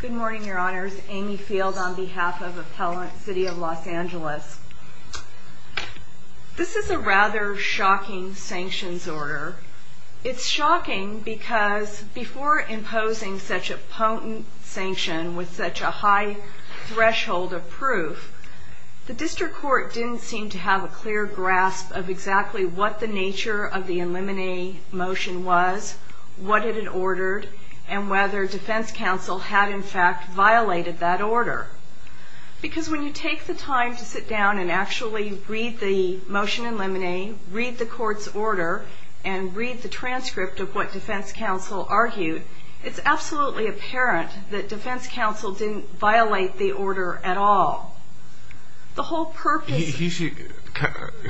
Good morning, your honors. Amy Field on behalf of Appellant City of Los Angeles. This is a rather shocking sanctions order. It's shocking because before imposing such a potent sanction with such a high threshold of proof, the District Court didn't seem to have a clear grasp of exactly what the nature of the eliminate motion was, what it had ordered, and whether Defense Counsel had in fact violated that order. Because when you take the time to sit down and actually read the motion in limine, read the court's order, and read the transcript of what Defense Counsel argued, it's absolutely apparent that Defense Counsel didn't violate the order at all. The whole purpose of the motion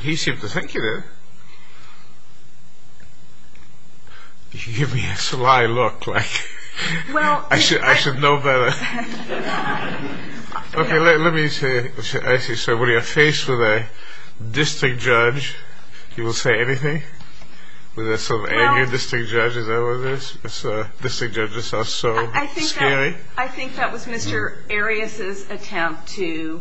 is to give you an idea of what the nature of the eliminate motion was, and what the nature of the eliminate motion was. I think that was Mr. Arias' attempt to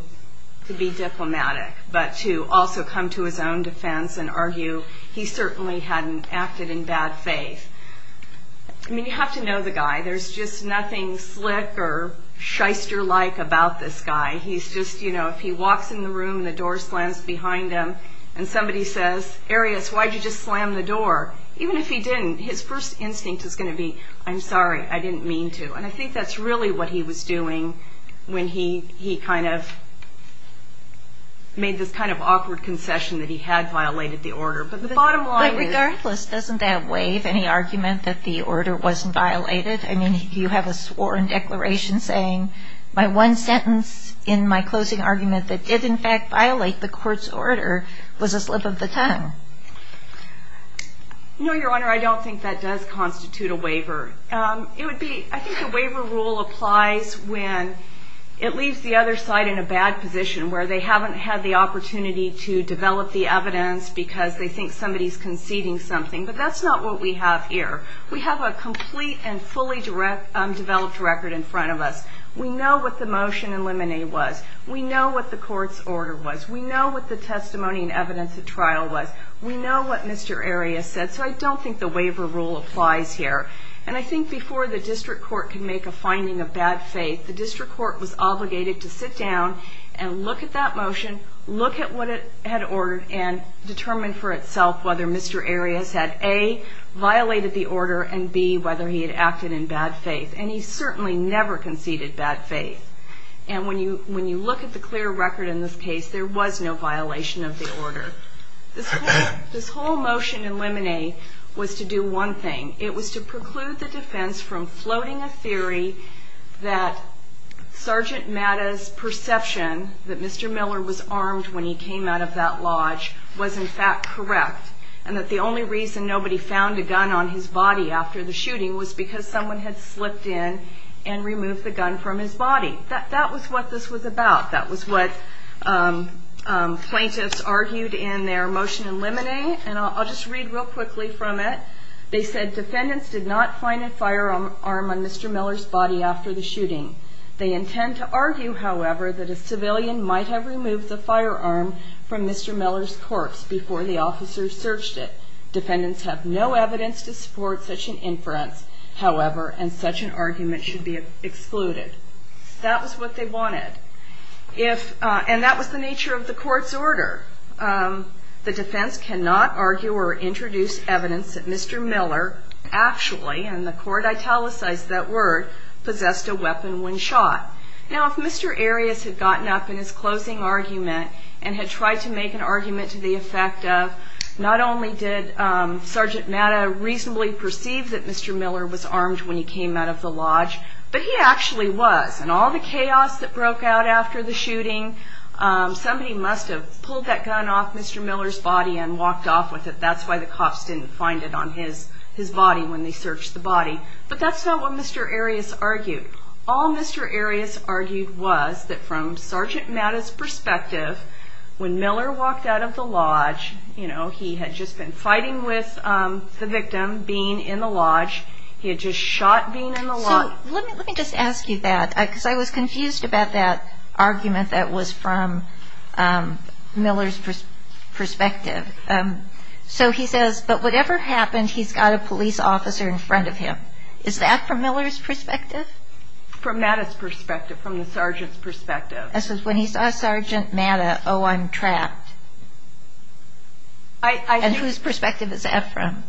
be diplomatic. But to also come to his own defense and argue he certainly hadn't acted in bad faith. I mean, you have to know the guy. There's just nothing slick or shyster-like about this guy. He's just, you know, if he walks in the room and the door slams behind him, and somebody says, Arias, why'd you just slam the door? Even if he didn't, his first instinct is going to be, I'm sorry, I didn't mean to. And I think that's really what he was doing when he kind of made this kind of awkward concession that he had violated the order. But the bottom line is... But regardless, doesn't that waive any argument that the order wasn't violated? I mean, you have a sworn declaration saying, my one sentence in my closing argument that did in fact violate the court's order was a slip of the tongue. No, Your Honor, I don't think that does constitute a waiver. It would be, I think the waiver rule applies when it leaves the other side in a bad position where they haven't had the opportunity to develop the evidence because they think somebody's conceding something. But that's not what we have here. We have a complete and fully developed record in front of us. We know what the motion in limine was. We know what the court's order was. We know what the testimony and evidence at trial was. We know what Mr. Arias said. So I don't think the waiver rule applies here. And I think before the district court can make a finding of bad faith, the district court was obligated to sit down and look at that motion, look at what it had ordered, and determine for itself whether Mr. Arias had A, violated the order, and B, whether he had acted in bad faith. And he certainly never conceded bad faith. And when you look at the clear record in this case, there was no violation of the order. This whole motion in limine was to do one thing. It was to preclude the defense from floating a theory that Sergeant Matta's perception that Mr. Miller was armed when he came out of that lodge was in fact correct, and that the only reason nobody found a gun on his body after the shooting was because someone had slipped in and removed the gun from his body. That was what this was about. That was what plaintiffs argued in their motion in limine. And I'll just read real quickly from it. They said defendants did not find a firearm on Mr. Miller's body after the shooting. They intend to argue, however, that a civilian might have removed the firearm from Mr. Miller's corpse before the officers searched it. Defendants have no evidence to support such an inference, however, and such an argument should be excluded. That was what they wanted. And that was the nature of the court's order. The defense cannot argue or introduce evidence that Mr. Miller actually, and the court italicized that word, possessed a weapon when shot. Now if Mr. Arias had gotten up in his closing argument and had tried to make an argument to the effect of not only did Sergeant Matta reasonably perceive that Mr. Miller was armed when he came out of the lodge, but he actually was. And all the chaos that broke out after the shooting, somebody must have pulled that gun off Mr. Miller's body and walked off with it. That's why the cops didn't find it on his body when they searched the body. But that's not what Mr. Arias argued. All Mr. Arias argued was that from Sergeant Matta's perspective, when Miller walked out of the lodge, he had just been fighting with the victim being in the lodge. He had just shot being in the lodge. Let me just ask you that, because I was confused about that argument that was from Miller's perspective. So he says, but whatever happened, he's got a police officer in front of him. Is that from Miller's perspective? From Matta's perspective, from the sergeant's perspective. When he saw Sergeant Matta, oh, I'm trapped. And whose perspective is that from?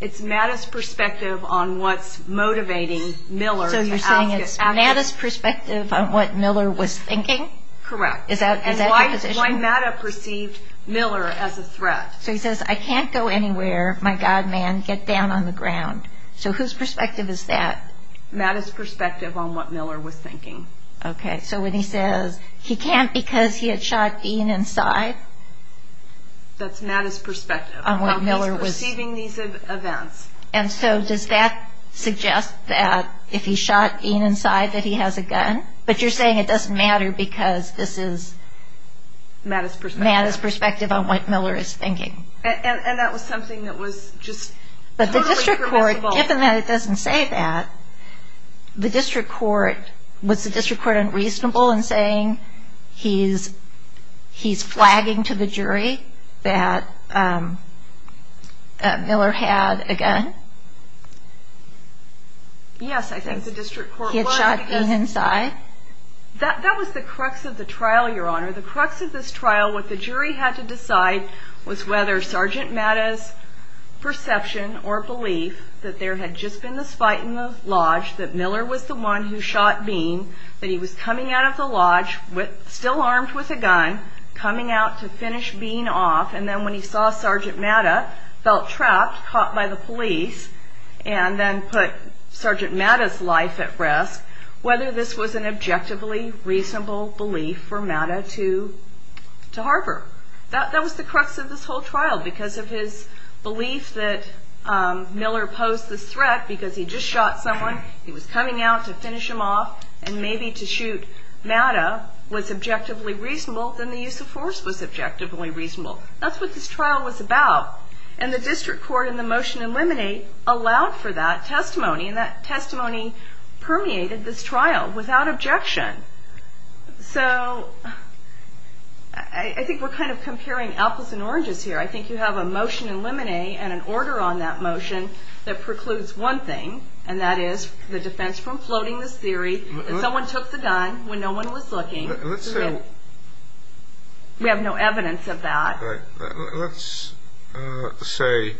It's Matta's perspective on what's motivating Miller. So you're saying it's Matta's perspective on what Miller was thinking? Correct. And why Matta perceived Miller as a threat. So he says, I can't go anywhere. My God, man, get down on the ground. So whose perspective is that? Matta's perspective on what Miller was thinking. Okay. So when he says he can't because he had shot being inside? That's Matta's perspective. And so does that suggest that if he shot being inside, that he has a gun? But you're saying it doesn't matter because this is Matta's perspective on what Miller is thinking. And that was something that was just totally permissible. Given that it doesn't say that, was the district court unreasonable in saying he's flagging to the jury that Miller had a gun? Yes, I think the district court was. He had shot being inside? That was the crux of the trial, Your Honor. The crux of this trial, what the jury had to decide was whether Sergeant Matta's perception or belief that there had just been this fight in the lodge, that Miller was the one who shot being, that he was coming out of the lodge still armed with a gun, coming out to finish being off. And then when he saw Sergeant Matta, felt trapped, caught by the police, and then put Sergeant Matta's life at risk, whether this was an objectively reasonable belief for Matta to harbor. That was the crux of this whole trial because of his belief that Miller posed this threat because he just shot someone, he was coming out to finish him off, and maybe to shoot Matta was objectively reasonable, then the use of force was objectively reasonable. That's what this trial was about. And the district court in the motion eliminate allowed for that testimony, and that testimony permeated this trial without objection. So I think we're kind of comparing apples and oranges here. I think you have a motion eliminate and an order on that motion that precludes one thing, and that is the defense from floating this theory that someone took the gun when no one was looking. We have no evidence of that. Let's say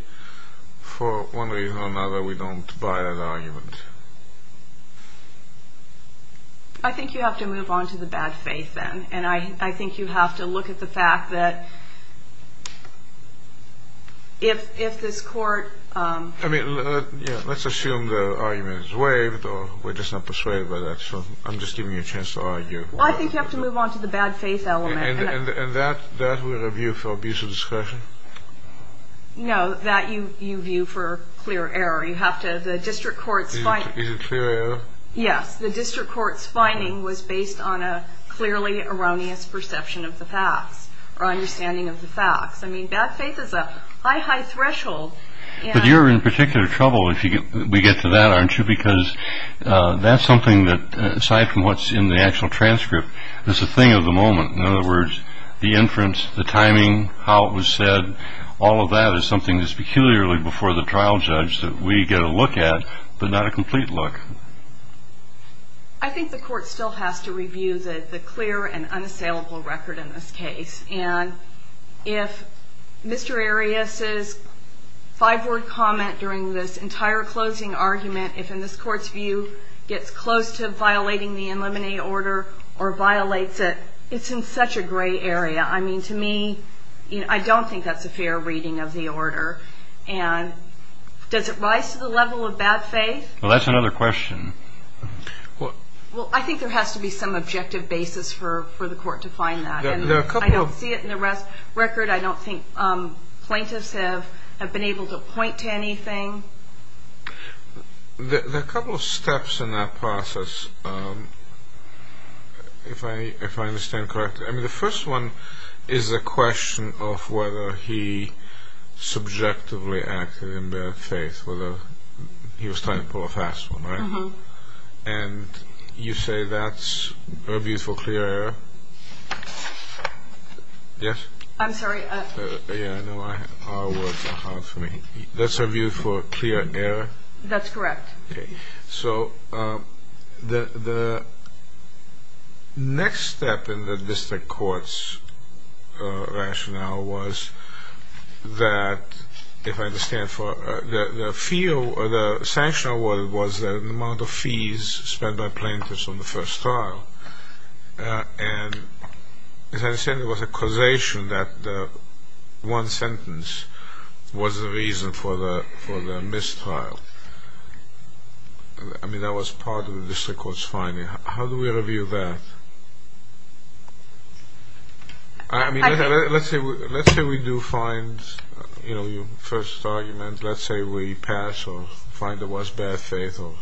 for one reason or another we don't I think you have to move on to the bad faith then, and I think you have to look at the fact that if this court... Let's assume the argument is waived, or we're just not persuaded by that, so I'm just giving you a chance to argue. I think you have to move on to the bad faith element. And that we review for abuse of discretion? No, that you view for clear error. Is it clear error? Yes. The district court's finding was based on a clearly erroneous perception of the facts, or understanding of the facts. I mean, bad faith is a high, high threshold. But you're in particular trouble if we get to that, aren't you? Because that's something that, aside from what's in the actual transcript, is a thing of the moment. In other words, the inference, the timing, how it was said, all of that is something that's peculiarly before the trial judge that we get a look at, but not a complete look. I think the court still has to review the clear and unassailable record in this case. And if Mr. Arias's five-word comment during this entire closing argument, if in this court's view, gets close to violating the in limine order, or violates it, it's in such a gray area. I mean, to me, I don't think that's a fair reading of the order. And does it rise to the level of bad faith? Well, that's another question. Well, I think there has to be some objective basis for the court to find that. I don't see it in the record. I don't think There are a couple of steps in that process, if I understand correctly. I mean, the first one is a question of whether he subjectively acted in bad faith, whether he was trying to pull a fast one, right? And you say that's a review for clear error? Yes? I'm sorry? That's a review for clear error? That's correct. So the next step in the district court's rationale was that, if I understand correctly, the fee or the sanction was the amount of fees spent by plaintiffs on the first trial. And as I understand, it was a causation that one sentence was the reason for the mistrial. I mean, that was part of the district court's finding. How do we review that? Let's say we do find your first argument. Let's say we pass or find it was bad faith. How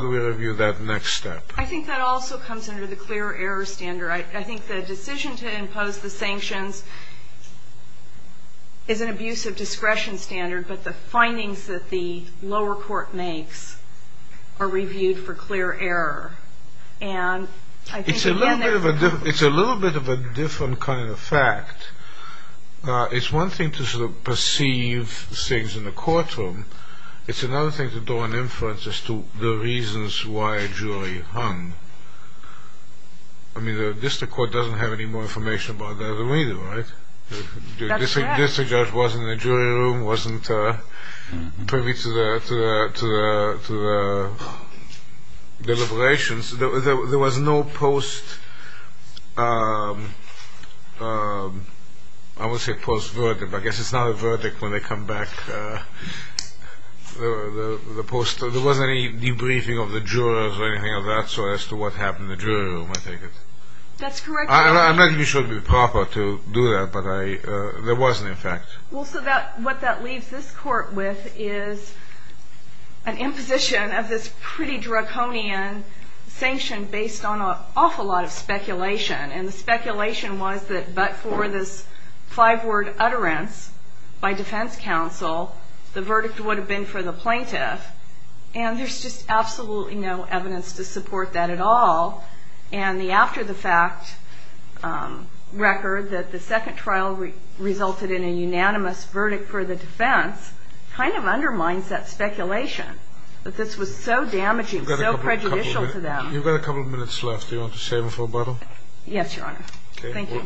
do we review that next step? I think that also comes under the clear error standard. I think the decision to impose the sanctions is an abuse of discretion standard, but the findings that the lower court makes are reviewed for clear error. It's a little bit of a different kind of fact. It's one thing to perceive things in the courtroom. It's another thing to draw an inference as to the reasons why a jury hung. I mean, the district court doesn't have any more information about that either, right? That's right. The district judge wasn't in the jury room, wasn't privy to the deliberations. There was no post- I won't say post-verdict, but I guess it's not a verdict when they come back. There wasn't any debriefing of the jurors or anything of that sort as to what happened in the jury room, I take it. That's correct. I'm not even sure it would be proper to do that, but there wasn't, in fact. What that leaves this court with is an imposition of this pretty draconian sanction based on an awful lot of speculation. The speculation was that but for this five-word utterance by defense counsel, the verdict would have been for the plaintiff. And there's just absolutely no evidence to support that at all. And the after-the-fact record that the second trial resulted in a unanimous verdict for the defense kind of undermines that speculation that this was so damaging, so prejudicial to them. You've got a couple of minutes left. Do you want to shave them for a bottle? Yes, Your Honor. Thank you,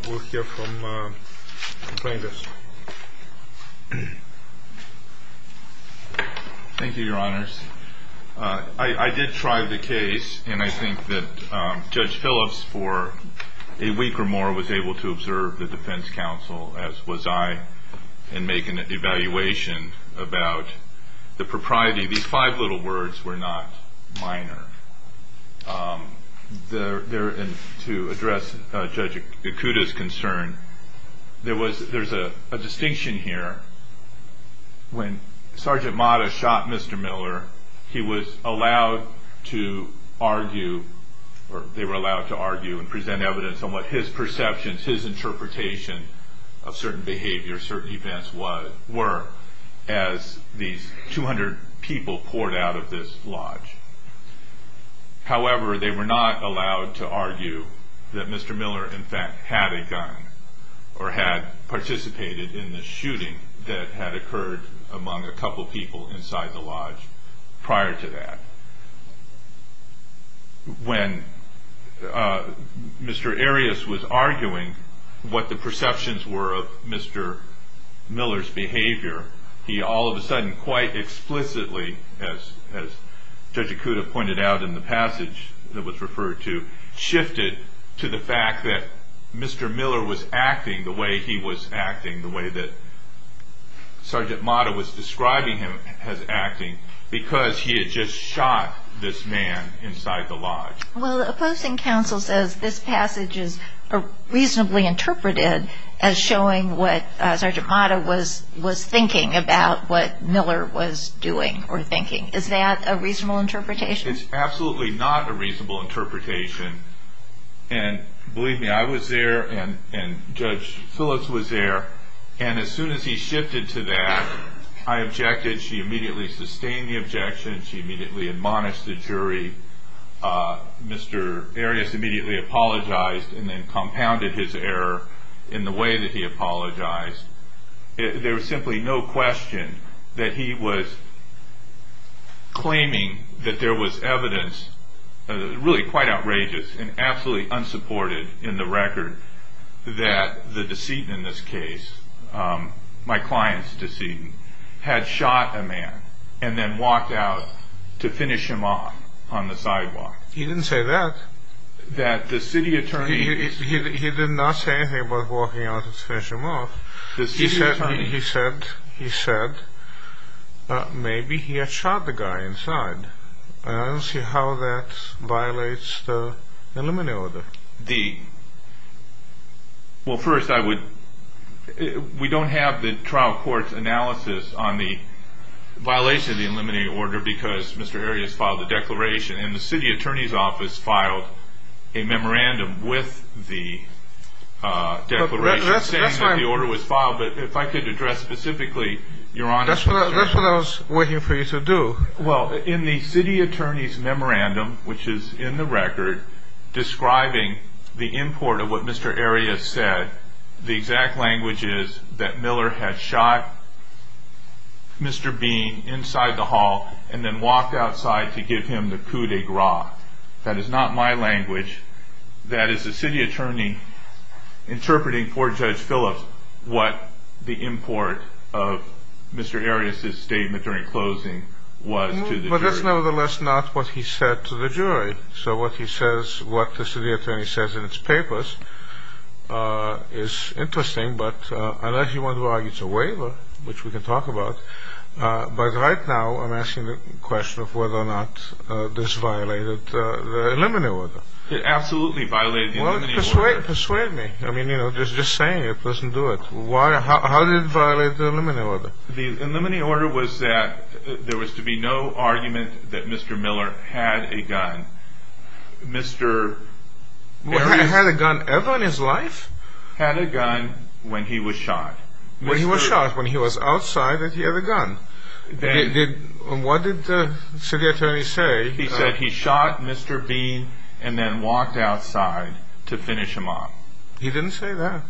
Your Honors. I did try the case, and I think that Judge Phillips, for a week or more, was able to observe the defense counsel, as was I, and make an evaluation about the propriety. These five little words were not minor. To address Judge Yakuta's concern, there's a distinction here. When Sergeant Mata shot Mr. Miller, he was allowed to argue, or they were allowed to argue and present evidence on what his perceptions, his interpretation of certain behaviors, certain events were, as these 200 people poured out of this lodge. However, they were not allowed to argue that Mr. Miller, in fact, had a gun or had participated in the shooting that had occurred among a couple people inside the lodge prior to that. When Mr. Arias was arguing what the perceptions were of Mr. Miller's behavior, he all of a sudden, quite explicitly, as Judge Yakuta pointed out in the passage that was referred to, shifted to the fact that Mr. Miller was acting the way he was acting, the way that Sergeant Mata was describing him as acting, because he had just shot this man inside the lodge. Well, the opposing counsel says this passage is reasonably interpreted as showing what Sergeant Mata was thinking about what Miller was doing or thinking. Is that a reasonable interpretation? It's absolutely not a reasonable interpretation, and believe me, I was there and Judge Phyllis was there, and as soon as he shifted to that, I objected. She immediately sustained the objection. She immediately admonished the jury. Mr. Arias immediately apologized and then compounded his error in the way that he apologized. There was simply no question that he was claiming that there was evidence, really quite outrageous and absolutely unsupported in the record, that the deceit in this case, my client's deceit, had shot a man and then walked out to finish him off on the sidewalk. He didn't say that. He did not say anything about walking out to finish him off. He said maybe he had shot the guy inside. I don't see how that violates the limine order. Well, first, I would... We don't have the trial court's analysis on the violation of the limine order because Mr. Arias filed a declaration, and the city attorney's office filed a memorandum with the declaration saying that the order was filed, but if I could address specifically, Your Honor... That's what I was waiting for you to do. Well, in the city attorney's memorandum, which is in the record, describing the import of what Mr. Arias said, the exact language is that Miller had shot Mr. Bean inside the hall and then walked outside to give him the coup de grace. That is not my language. That is the city attorney interpreting for Judge Phillips what the import of Mr. Arias' statement during closing was to the jury. But that's nevertheless not what he said to the jury, so what he says, what the city attorney says in its papers is interesting, but unless you want to argue it's a waiver, which we can talk about, but right now I'm asking the question of whether or not this violated the limine order. It absolutely violated the limine order. Persuade me. I mean, just saying it doesn't do it. How did it violate the limine order? The limine order was that there was to be no argument that Mr. Miller had a gun. Mr. Arias... Had a gun ever in his life? Had a gun when he was shot. When he was shot, when he was outside, did he have a gun? What did the city attorney say? He said he shot Mr. Bean and then walked outside to finish him off. He didn't say that.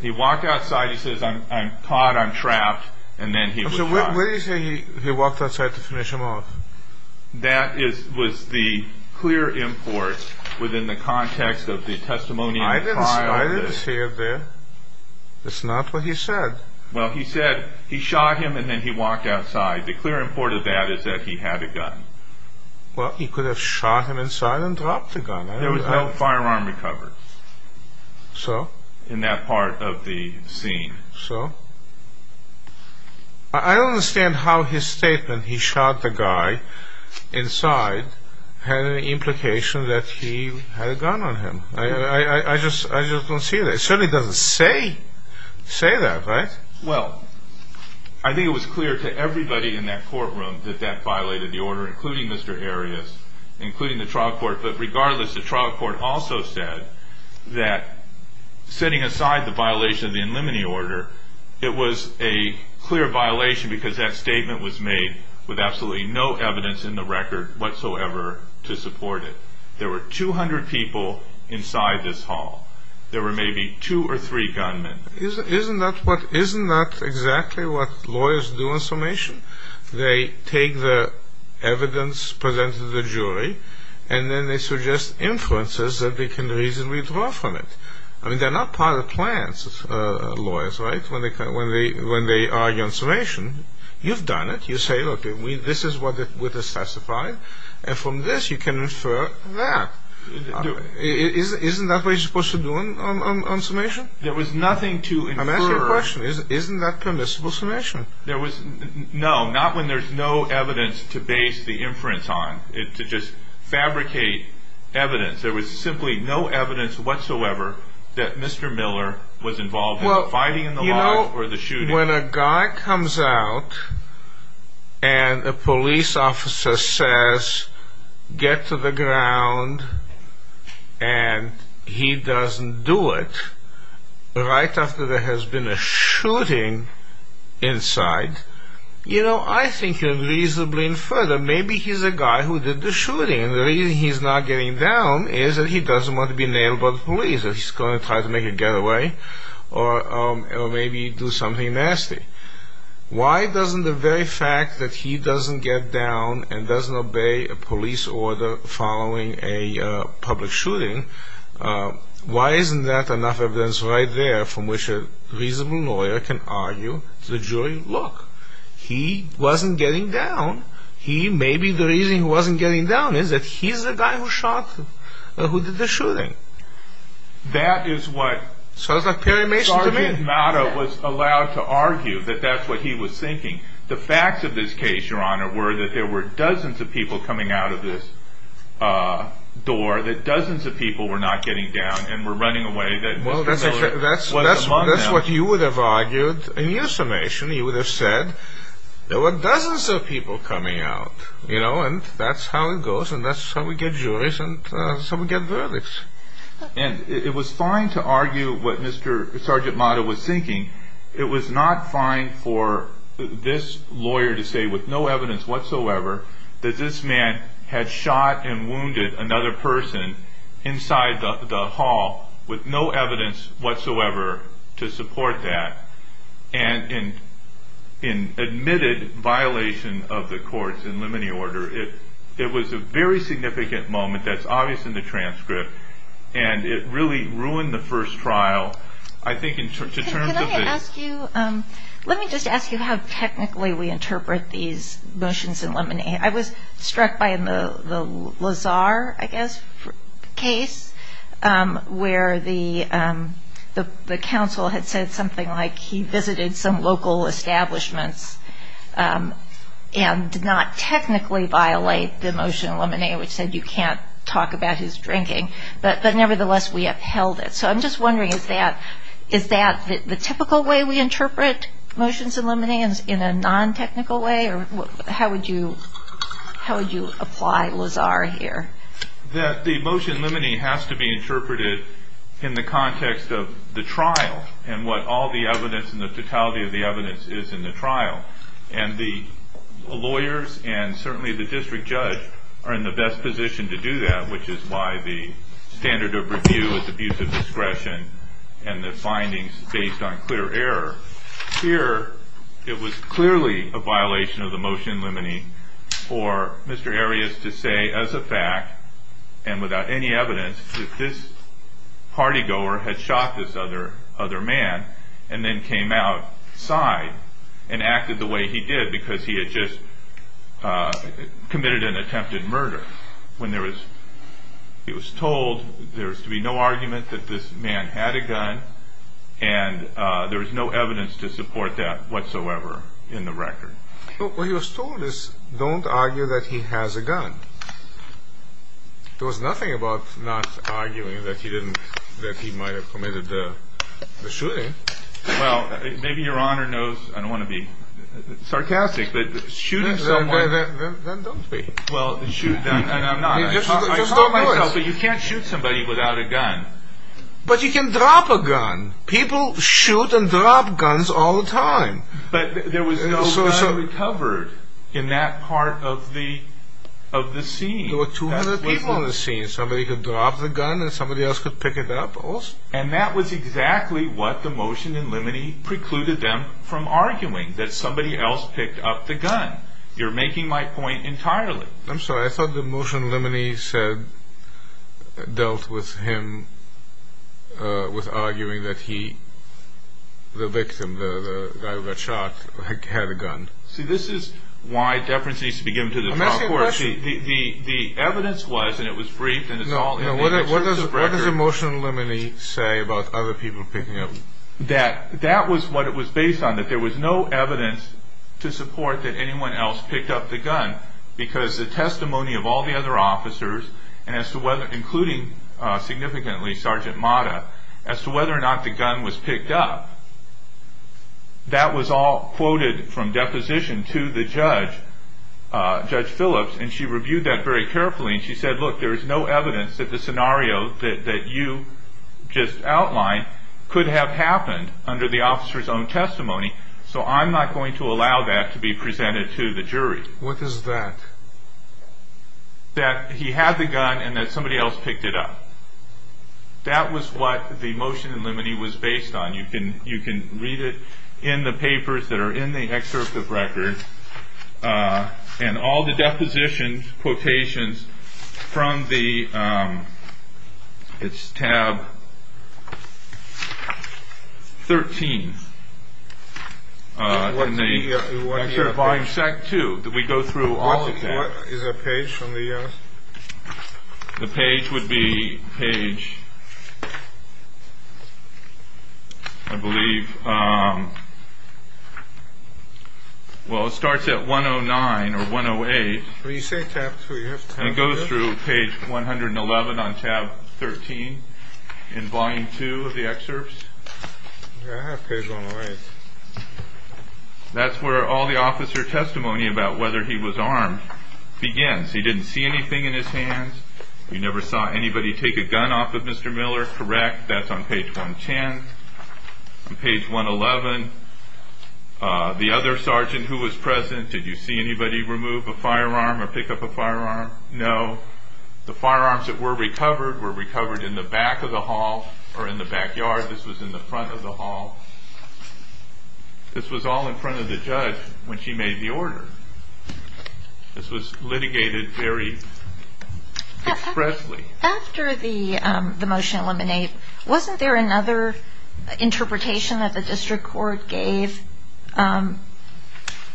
He walked outside, he says, I'm caught, I'm trapped, and then he was shot. Where did he say he walked outside to finish him off? That was the clear import within the context of the testimonial. I didn't see it there. That's not what he said. Well, he said he shot him and then he walked outside. The clear import of that is that he had a gun. Well, he could have shot him inside and dropped the gun. There was no firearm recovered. So? In that part of the scene. So? I don't understand how his statement, he shot the guy inside, had any implication that he had a gun on him. I just don't see that. It certainly doesn't say say that, right? Well, I think it was clear to everybody in that courtroom that that violated the order, including Mr. Arias, including the trial court. But regardless, the trial court also said that, setting aside the violation of the in limine order, it was a clear violation because that statement was there were 200 people inside this hall. There were maybe two or three gunmen. Isn't that exactly what lawyers do in summation? They take the evidence presented to the jury and then they suggest influences that they can reasonably draw from it. I mean, they're not part of plans lawyers, right? When they argue on summation, you've done it. You say, look, this is what was specified, and from this you can infer that. Isn't that what you're supposed to do on summation? There was nothing to infer. I'm asking a question. Isn't that permissible summation? No, not when there's no evidence to base the inference on, to just fabricate evidence. There was simply no evidence whatsoever that Mr. Miller was and a police officer says, get to the ground, and he doesn't do it, right after there has been a shooting inside. You know, I think you're reasonably inferred that maybe he's a guy who did the shooting, and the reason he's not getting down is that he doesn't want to be nailed by the police, or he's going to try to make a getaway, or maybe do something nasty. Why doesn't the very fact that he doesn't get down and doesn't obey a police order following a public shooting, why isn't that enough evidence right there from which a reasonable lawyer can argue to the jury, look, he wasn't getting down. He, maybe the reason he wasn't getting down is that he's the guy who shot, who did the shooting. That is what Sergeant Mata was allowed to argue, that that's what he was thinking. The facts of this case, Your Honor, were that there were dozens of people coming out of this door, that dozens of people were not getting down, and were running away, that Mr. Miller was among them. That's what you would have argued in your summation. You would have said that there were dozens of people coming out, you know, and that's how it goes, and that's how we get juries, and that's how we get verdicts. And it was fine to argue what Mr. Sergeant Mata was thinking. It was not fine for this lawyer to say, with no evidence whatsoever, that this man had shot and wounded another person inside the hall, with no evidence whatsoever to support that. And in admitted violation of the court's in limine order, it was a very significant moment that's obvious in the transcript, and it really ruined the first trial. I think in terms of the... Can I ask you, let me just ask you how technically we interpret these motions in limine. I was struck by the Lazar, I guess, case, where the counsel had said something like he visited some local establishments, and did not technically violate the motion in limine, which said you can't talk about his drinking. But nevertheless, we upheld it. So I'm just wondering, is that the typical way we interpret motions in limine, in a non-technical way? Or how would you apply Lazar here? That the motion in limine has to be interpreted in the context of the trial, and what all the evidence and the totality of the evidence is in the trial. And the lawyers, and certainly the district judge, are in the best position to do that, which is why the standard of review is abuse of discretion, and the findings based on clear error. Here, it was clearly a violation of the motion in limine for Mr. Arias to say as a fact, and without any evidence, that this party goer had shot this other man, and then came outside and acted the way he did, because he had just committed an attempted murder. When it was told there was to be no argument that this man had a gun, and there was no evidence to support that whatsoever in the record. But what he was told is, don't argue that he has a gun. There was nothing about not arguing that he didn't, that he might have committed the shooting. Well, maybe your honor knows, I don't want to be sarcastic, but shooting someone. Then don't be. You can't shoot somebody without a gun. But you can drop a gun. People shoot and drop guns all the time. But there was no gun recovered in that part of the scene. There were 200 people in the scene. Somebody could drop the gun and somebody else could pick it up. And that was exactly what the motion in limine precluded them from arguing. That somebody else picked up the gun. You're making my point entirely. I'm sorry, I thought the motion in limine dealt with him with arguing that he, the victim, the guy who got shot, had a gun. See, this is why deference needs to be given to the trial court. The evidence was, and it was briefed, and it's all in there. What does the motion in limine say about other people picking up? That was what it was based on, that there was no evidence to support that anyone else picked up the gun, because the testimony of all the other officers, including significantly Sergeant Mata, as to whether or not the gun was picked up, that was all quoted from deposition to the judge, Judge Phillips, and she reviewed that very carefully, and she said, look, there is no evidence that the scenario that you just outlined could have happened under the officer's own testimony, so I'm not going to allow that to be presented to the jury. What is that? That he had the gun and that somebody else picked it up. That was what the motion in limine was based on. You can read it in the papers that are in the excerpt of record, and all the depositions, quotations, from the, it's tab 13, in the volume set 2, that we go through all of that. What is the page from the The page would be page I believe Well, it starts at 109 or 108 And it goes through page 111 on tab 13 in volume 2 of the excerpts That's where all the officer testimony about whether he was armed Begins. He didn't see anything in his hands. You never saw anybody take a gun off of Mr. Miller. Correct. That's on page 110. On page 111 The other sergeant who was present, did you see anybody remove a firearm or pick up a firearm? No. The firearms that were recovered were recovered in the back of the hall or in the backyard. This was in the front of the hall This was all in front of the judge when she made the order This was litigated very expressly After the motion in limine, wasn't there another interpretation that the district court gave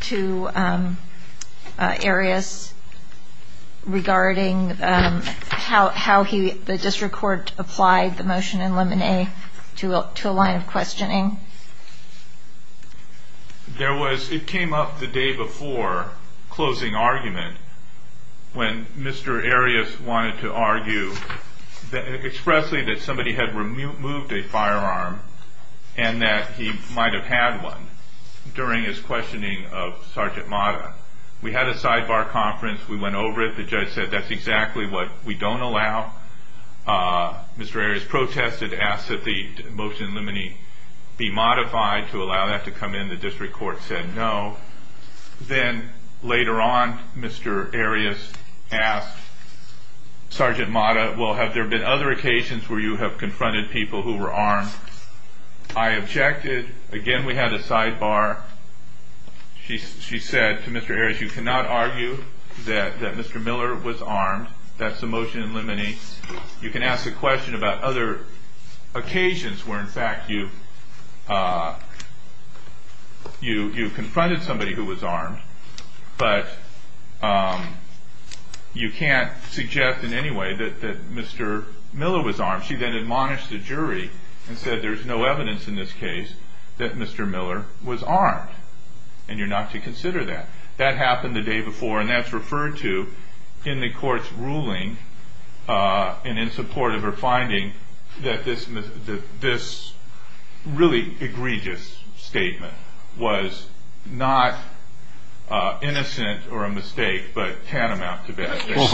to Arias regarding how he The district court applied the motion in limine to a line of questioning It came up the day before closing argument when Mr. Arias wanted to argue expressly that somebody had removed a firearm and that he might have had one during his questioning of Sergeant Mata We had a sidebar conference. We went over it. The judge said that's exactly what we don't allow Mr. Arias protested and asked that the motion in limine be modified to allow that to come in. The district court said no. Then later on Mr. Arias asked Sergeant Mata Well have there been other occasions where you have confronted people who were armed I objected. Again we had a sidebar She said to Mr. Arias you cannot argue that Mr. Miller was armed That's the motion in limine. You can ask a question about other occasions where in fact you confronted somebody who was armed but you can't suggest in any way that Mr. Miller was armed. She then admonished the jury and said there's no evidence in this case that Mr. Miller was armed and you're not to consider that. That happened the day before and that's referred to in the courts ruling and in support of her finding that this really egregious statement was not innocent or a mistake but tantamount to bad You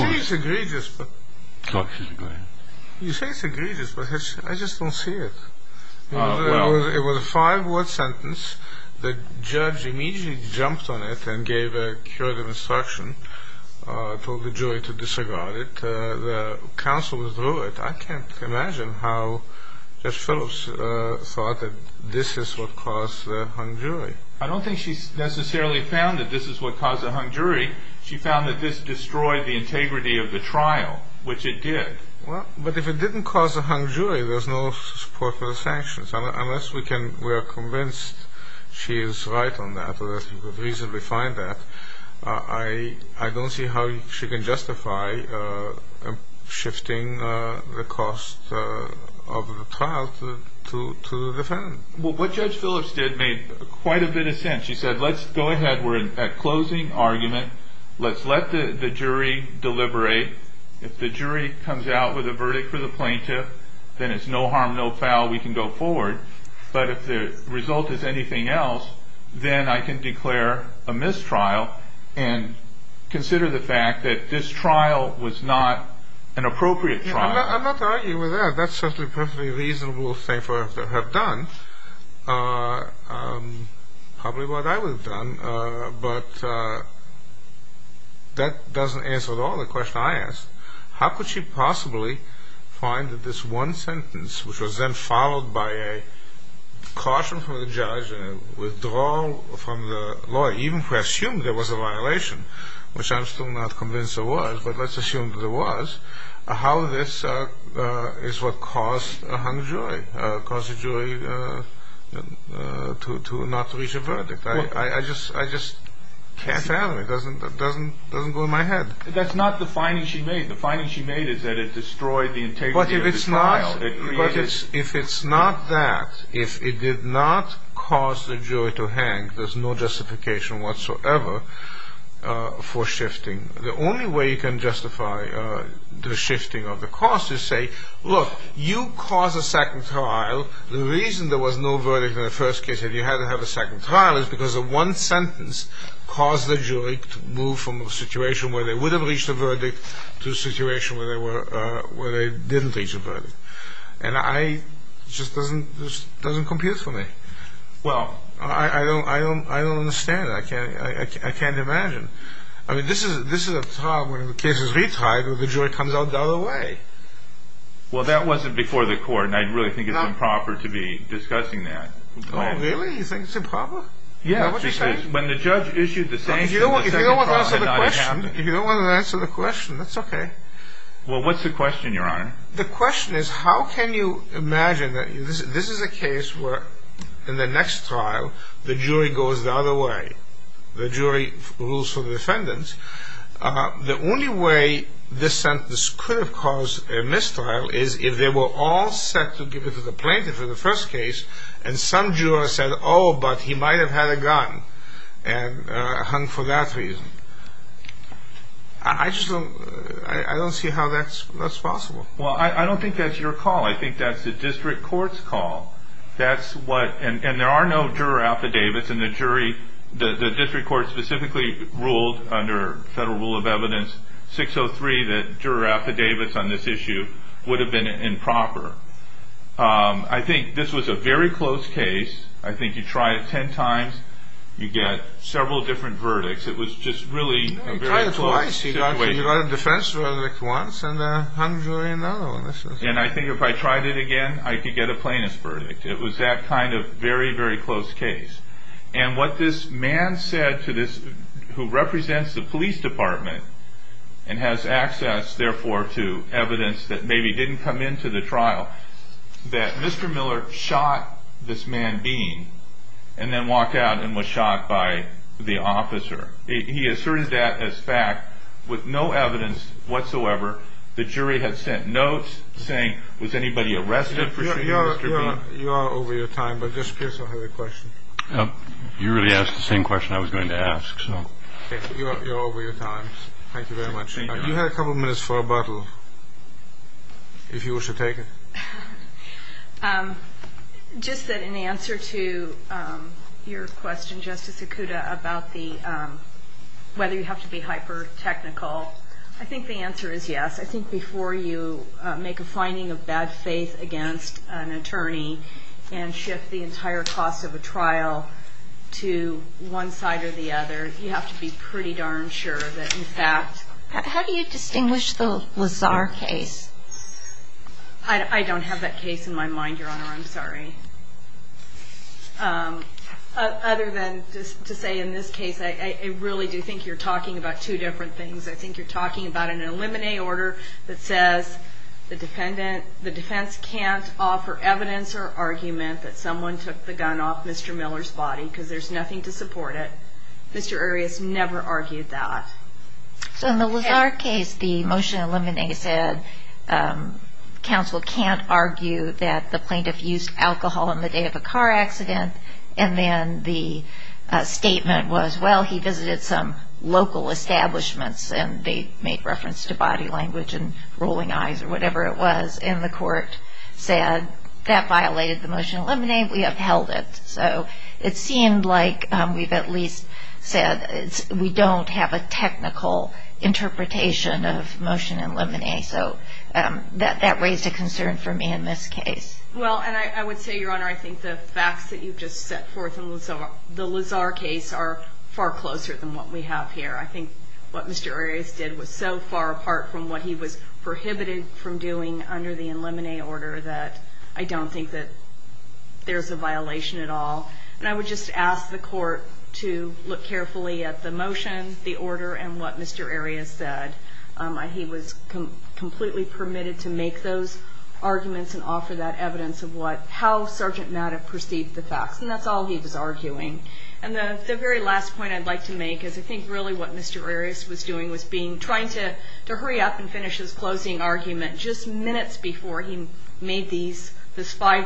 say it's egregious but I just don't see it It was a five word sentence. The judge immediately jumped on it and gave a curative instruction. Told the jury to disregard it The counsel withdrew it. I can't imagine how Judge Phillips thought that this is what caused the hung jury. I don't think she necessarily found that this is what caused the hung jury. She found that this destroyed the integrity of the trial which it did. But if it didn't cause the hung jury there's no support for the sanctions unless we are convinced she is right on that I don't see how she can justify shifting the cost of the trial to defend What Judge Phillips did made quite a bit of sense. She said let's go ahead we're at closing argument. Let's let the jury deliberate If the jury comes out with a verdict for the plaintiff then it's no harm no foul we can go forward but if the result is anything else then I can declare a mistrial and consider the fact that this trial was not an appropriate trial I'm not arguing with that. That's a perfectly reasonable thing for her to have done probably what I would have done but that doesn't answer at all the question I asked. How could she possibly find that this one sentence which was then followed by a caution from the judge and a withdrawal from the lawyer even who assumed there was a violation which I'm still not convinced there was but let's assume that there was how this is what caused the hung jury to not reach a verdict. I just can't fathom it it doesn't go in my head. That's not the finding she made. The finding she made is that it destroyed the integrity of the trial. But if it's not that if it did not cause the jury to hang there's no justification whatsoever for shifting. The only way you can justify the shifting of the cost is say look you caused a second trial. The reason there was no verdict in the first case if you had to have a second trial is because the one sentence caused the jury to move from a situation where they would have reached a verdict to a situation where they didn't reach a verdict and it just doesn't compute for me I don't understand it. I can't imagine I mean this is a trial where the case is retried and the jury comes out the other way Well that wasn't before the court and I really think it's improper to be discussing that Oh really? You think it's improper? If you don't want to answer the question that's okay The question is how can you imagine that this is a case where in the next trial the jury goes the other way. The jury rules for the defendants The only way this sentence could have caused a mistrial is if they were all set to give it to the plaintiff in the first case and some juror said oh but he might have had a gun and hung for that reason I just don't see how that's possible Well I don't think that's your call. I think that's the district court's call and there are no juror affidavits and the district court specifically ruled under federal rule of evidence 603 that juror affidavits on this issue would have been improper I think this was a very close case I think you try it ten times you get several different verdicts You tried it twice. You got a defense verdict once and a hung jury in the other one And I think if I tried it again I could get a plaintiff's verdict. It was that kind of very very close case And what this man said to this who represents the police department and has access therefore to evidence that maybe didn't come into the trial that Mr. Miller shot this man Bean and then walked out and was shot by the officer. He asserted that as fact with no evidence whatsoever. The jury had sent notes saying Was anybody arrested for shooting Mr. Bean? You really asked the same question I was going to ask Thank you very much. You have a couple minutes for a bottle if you wish to take it Just that in answer to your question Justice Okuda about whether you have to be hyper technical I think the answer is yes. I think before you make a finding of bad faith against an attorney and shift the entire cost of a trial to one side or the other you have to be pretty darn sure that in fact How do you distinguish the Lazar case? I don't have that case in my mind your honor I'm sorry Other than just to say in this case I really do think you're talking about two different things. I think you're talking about an eliminate order that says the defendant the defense can't offer evidence or argument that someone took the gun off Mr. Miller's body because there's nothing to support it. Mr. Arias never argued that So in the Lazar case the motion eliminate said counsel can't argue that the plaintiff used alcohol on the day of a car accident and then the statement was well he visited some local establishments and they made reference to body language and rolling eyes or whatever it was and the court said that violated the motion eliminate we upheld it so it seemed like we've at least said we don't have a technical interpretation of motion eliminate so that raised a concern for me in this case Well and I would say your honor I think the facts that you've just set forth in the Lazar case are far closer than what we have here. I think what Mr. Arias did was so far apart from what he was prohibited from doing under the eliminate order that I don't think that there's a violation at all and I would just ask the court to look carefully at the motion the order and what Mr. Arias said he was completely permitted to make those arguments and offer that evidence of what how Sergeant Maddox perceived the facts and that's all he was arguing and the very last point I'd like to make is I think really what Mr. Arias was doing was being trying to hurry up and finish his closing argument just minutes before he made these this five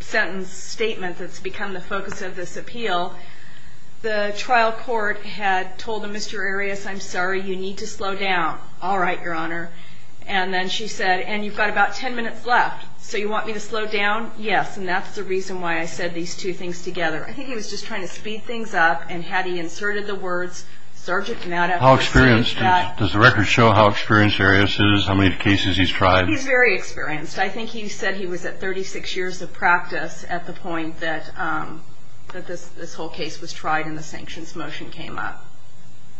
sentence statement that's become the focus of this appeal the trial court had told Mr. Arias I'm sorry you need to slow down all right your honor and then she said and you've got about ten minutes left so you want me to slow down yes and that's the reason why I said these two things together I think he was just trying to speed things up and had he inserted the words Sergeant Maddox does the record show how experienced Arias is how many cases he's tried he's very experienced I think he said he was at 36 years of practice at the point that this whole case was tried and the sanctions motion came up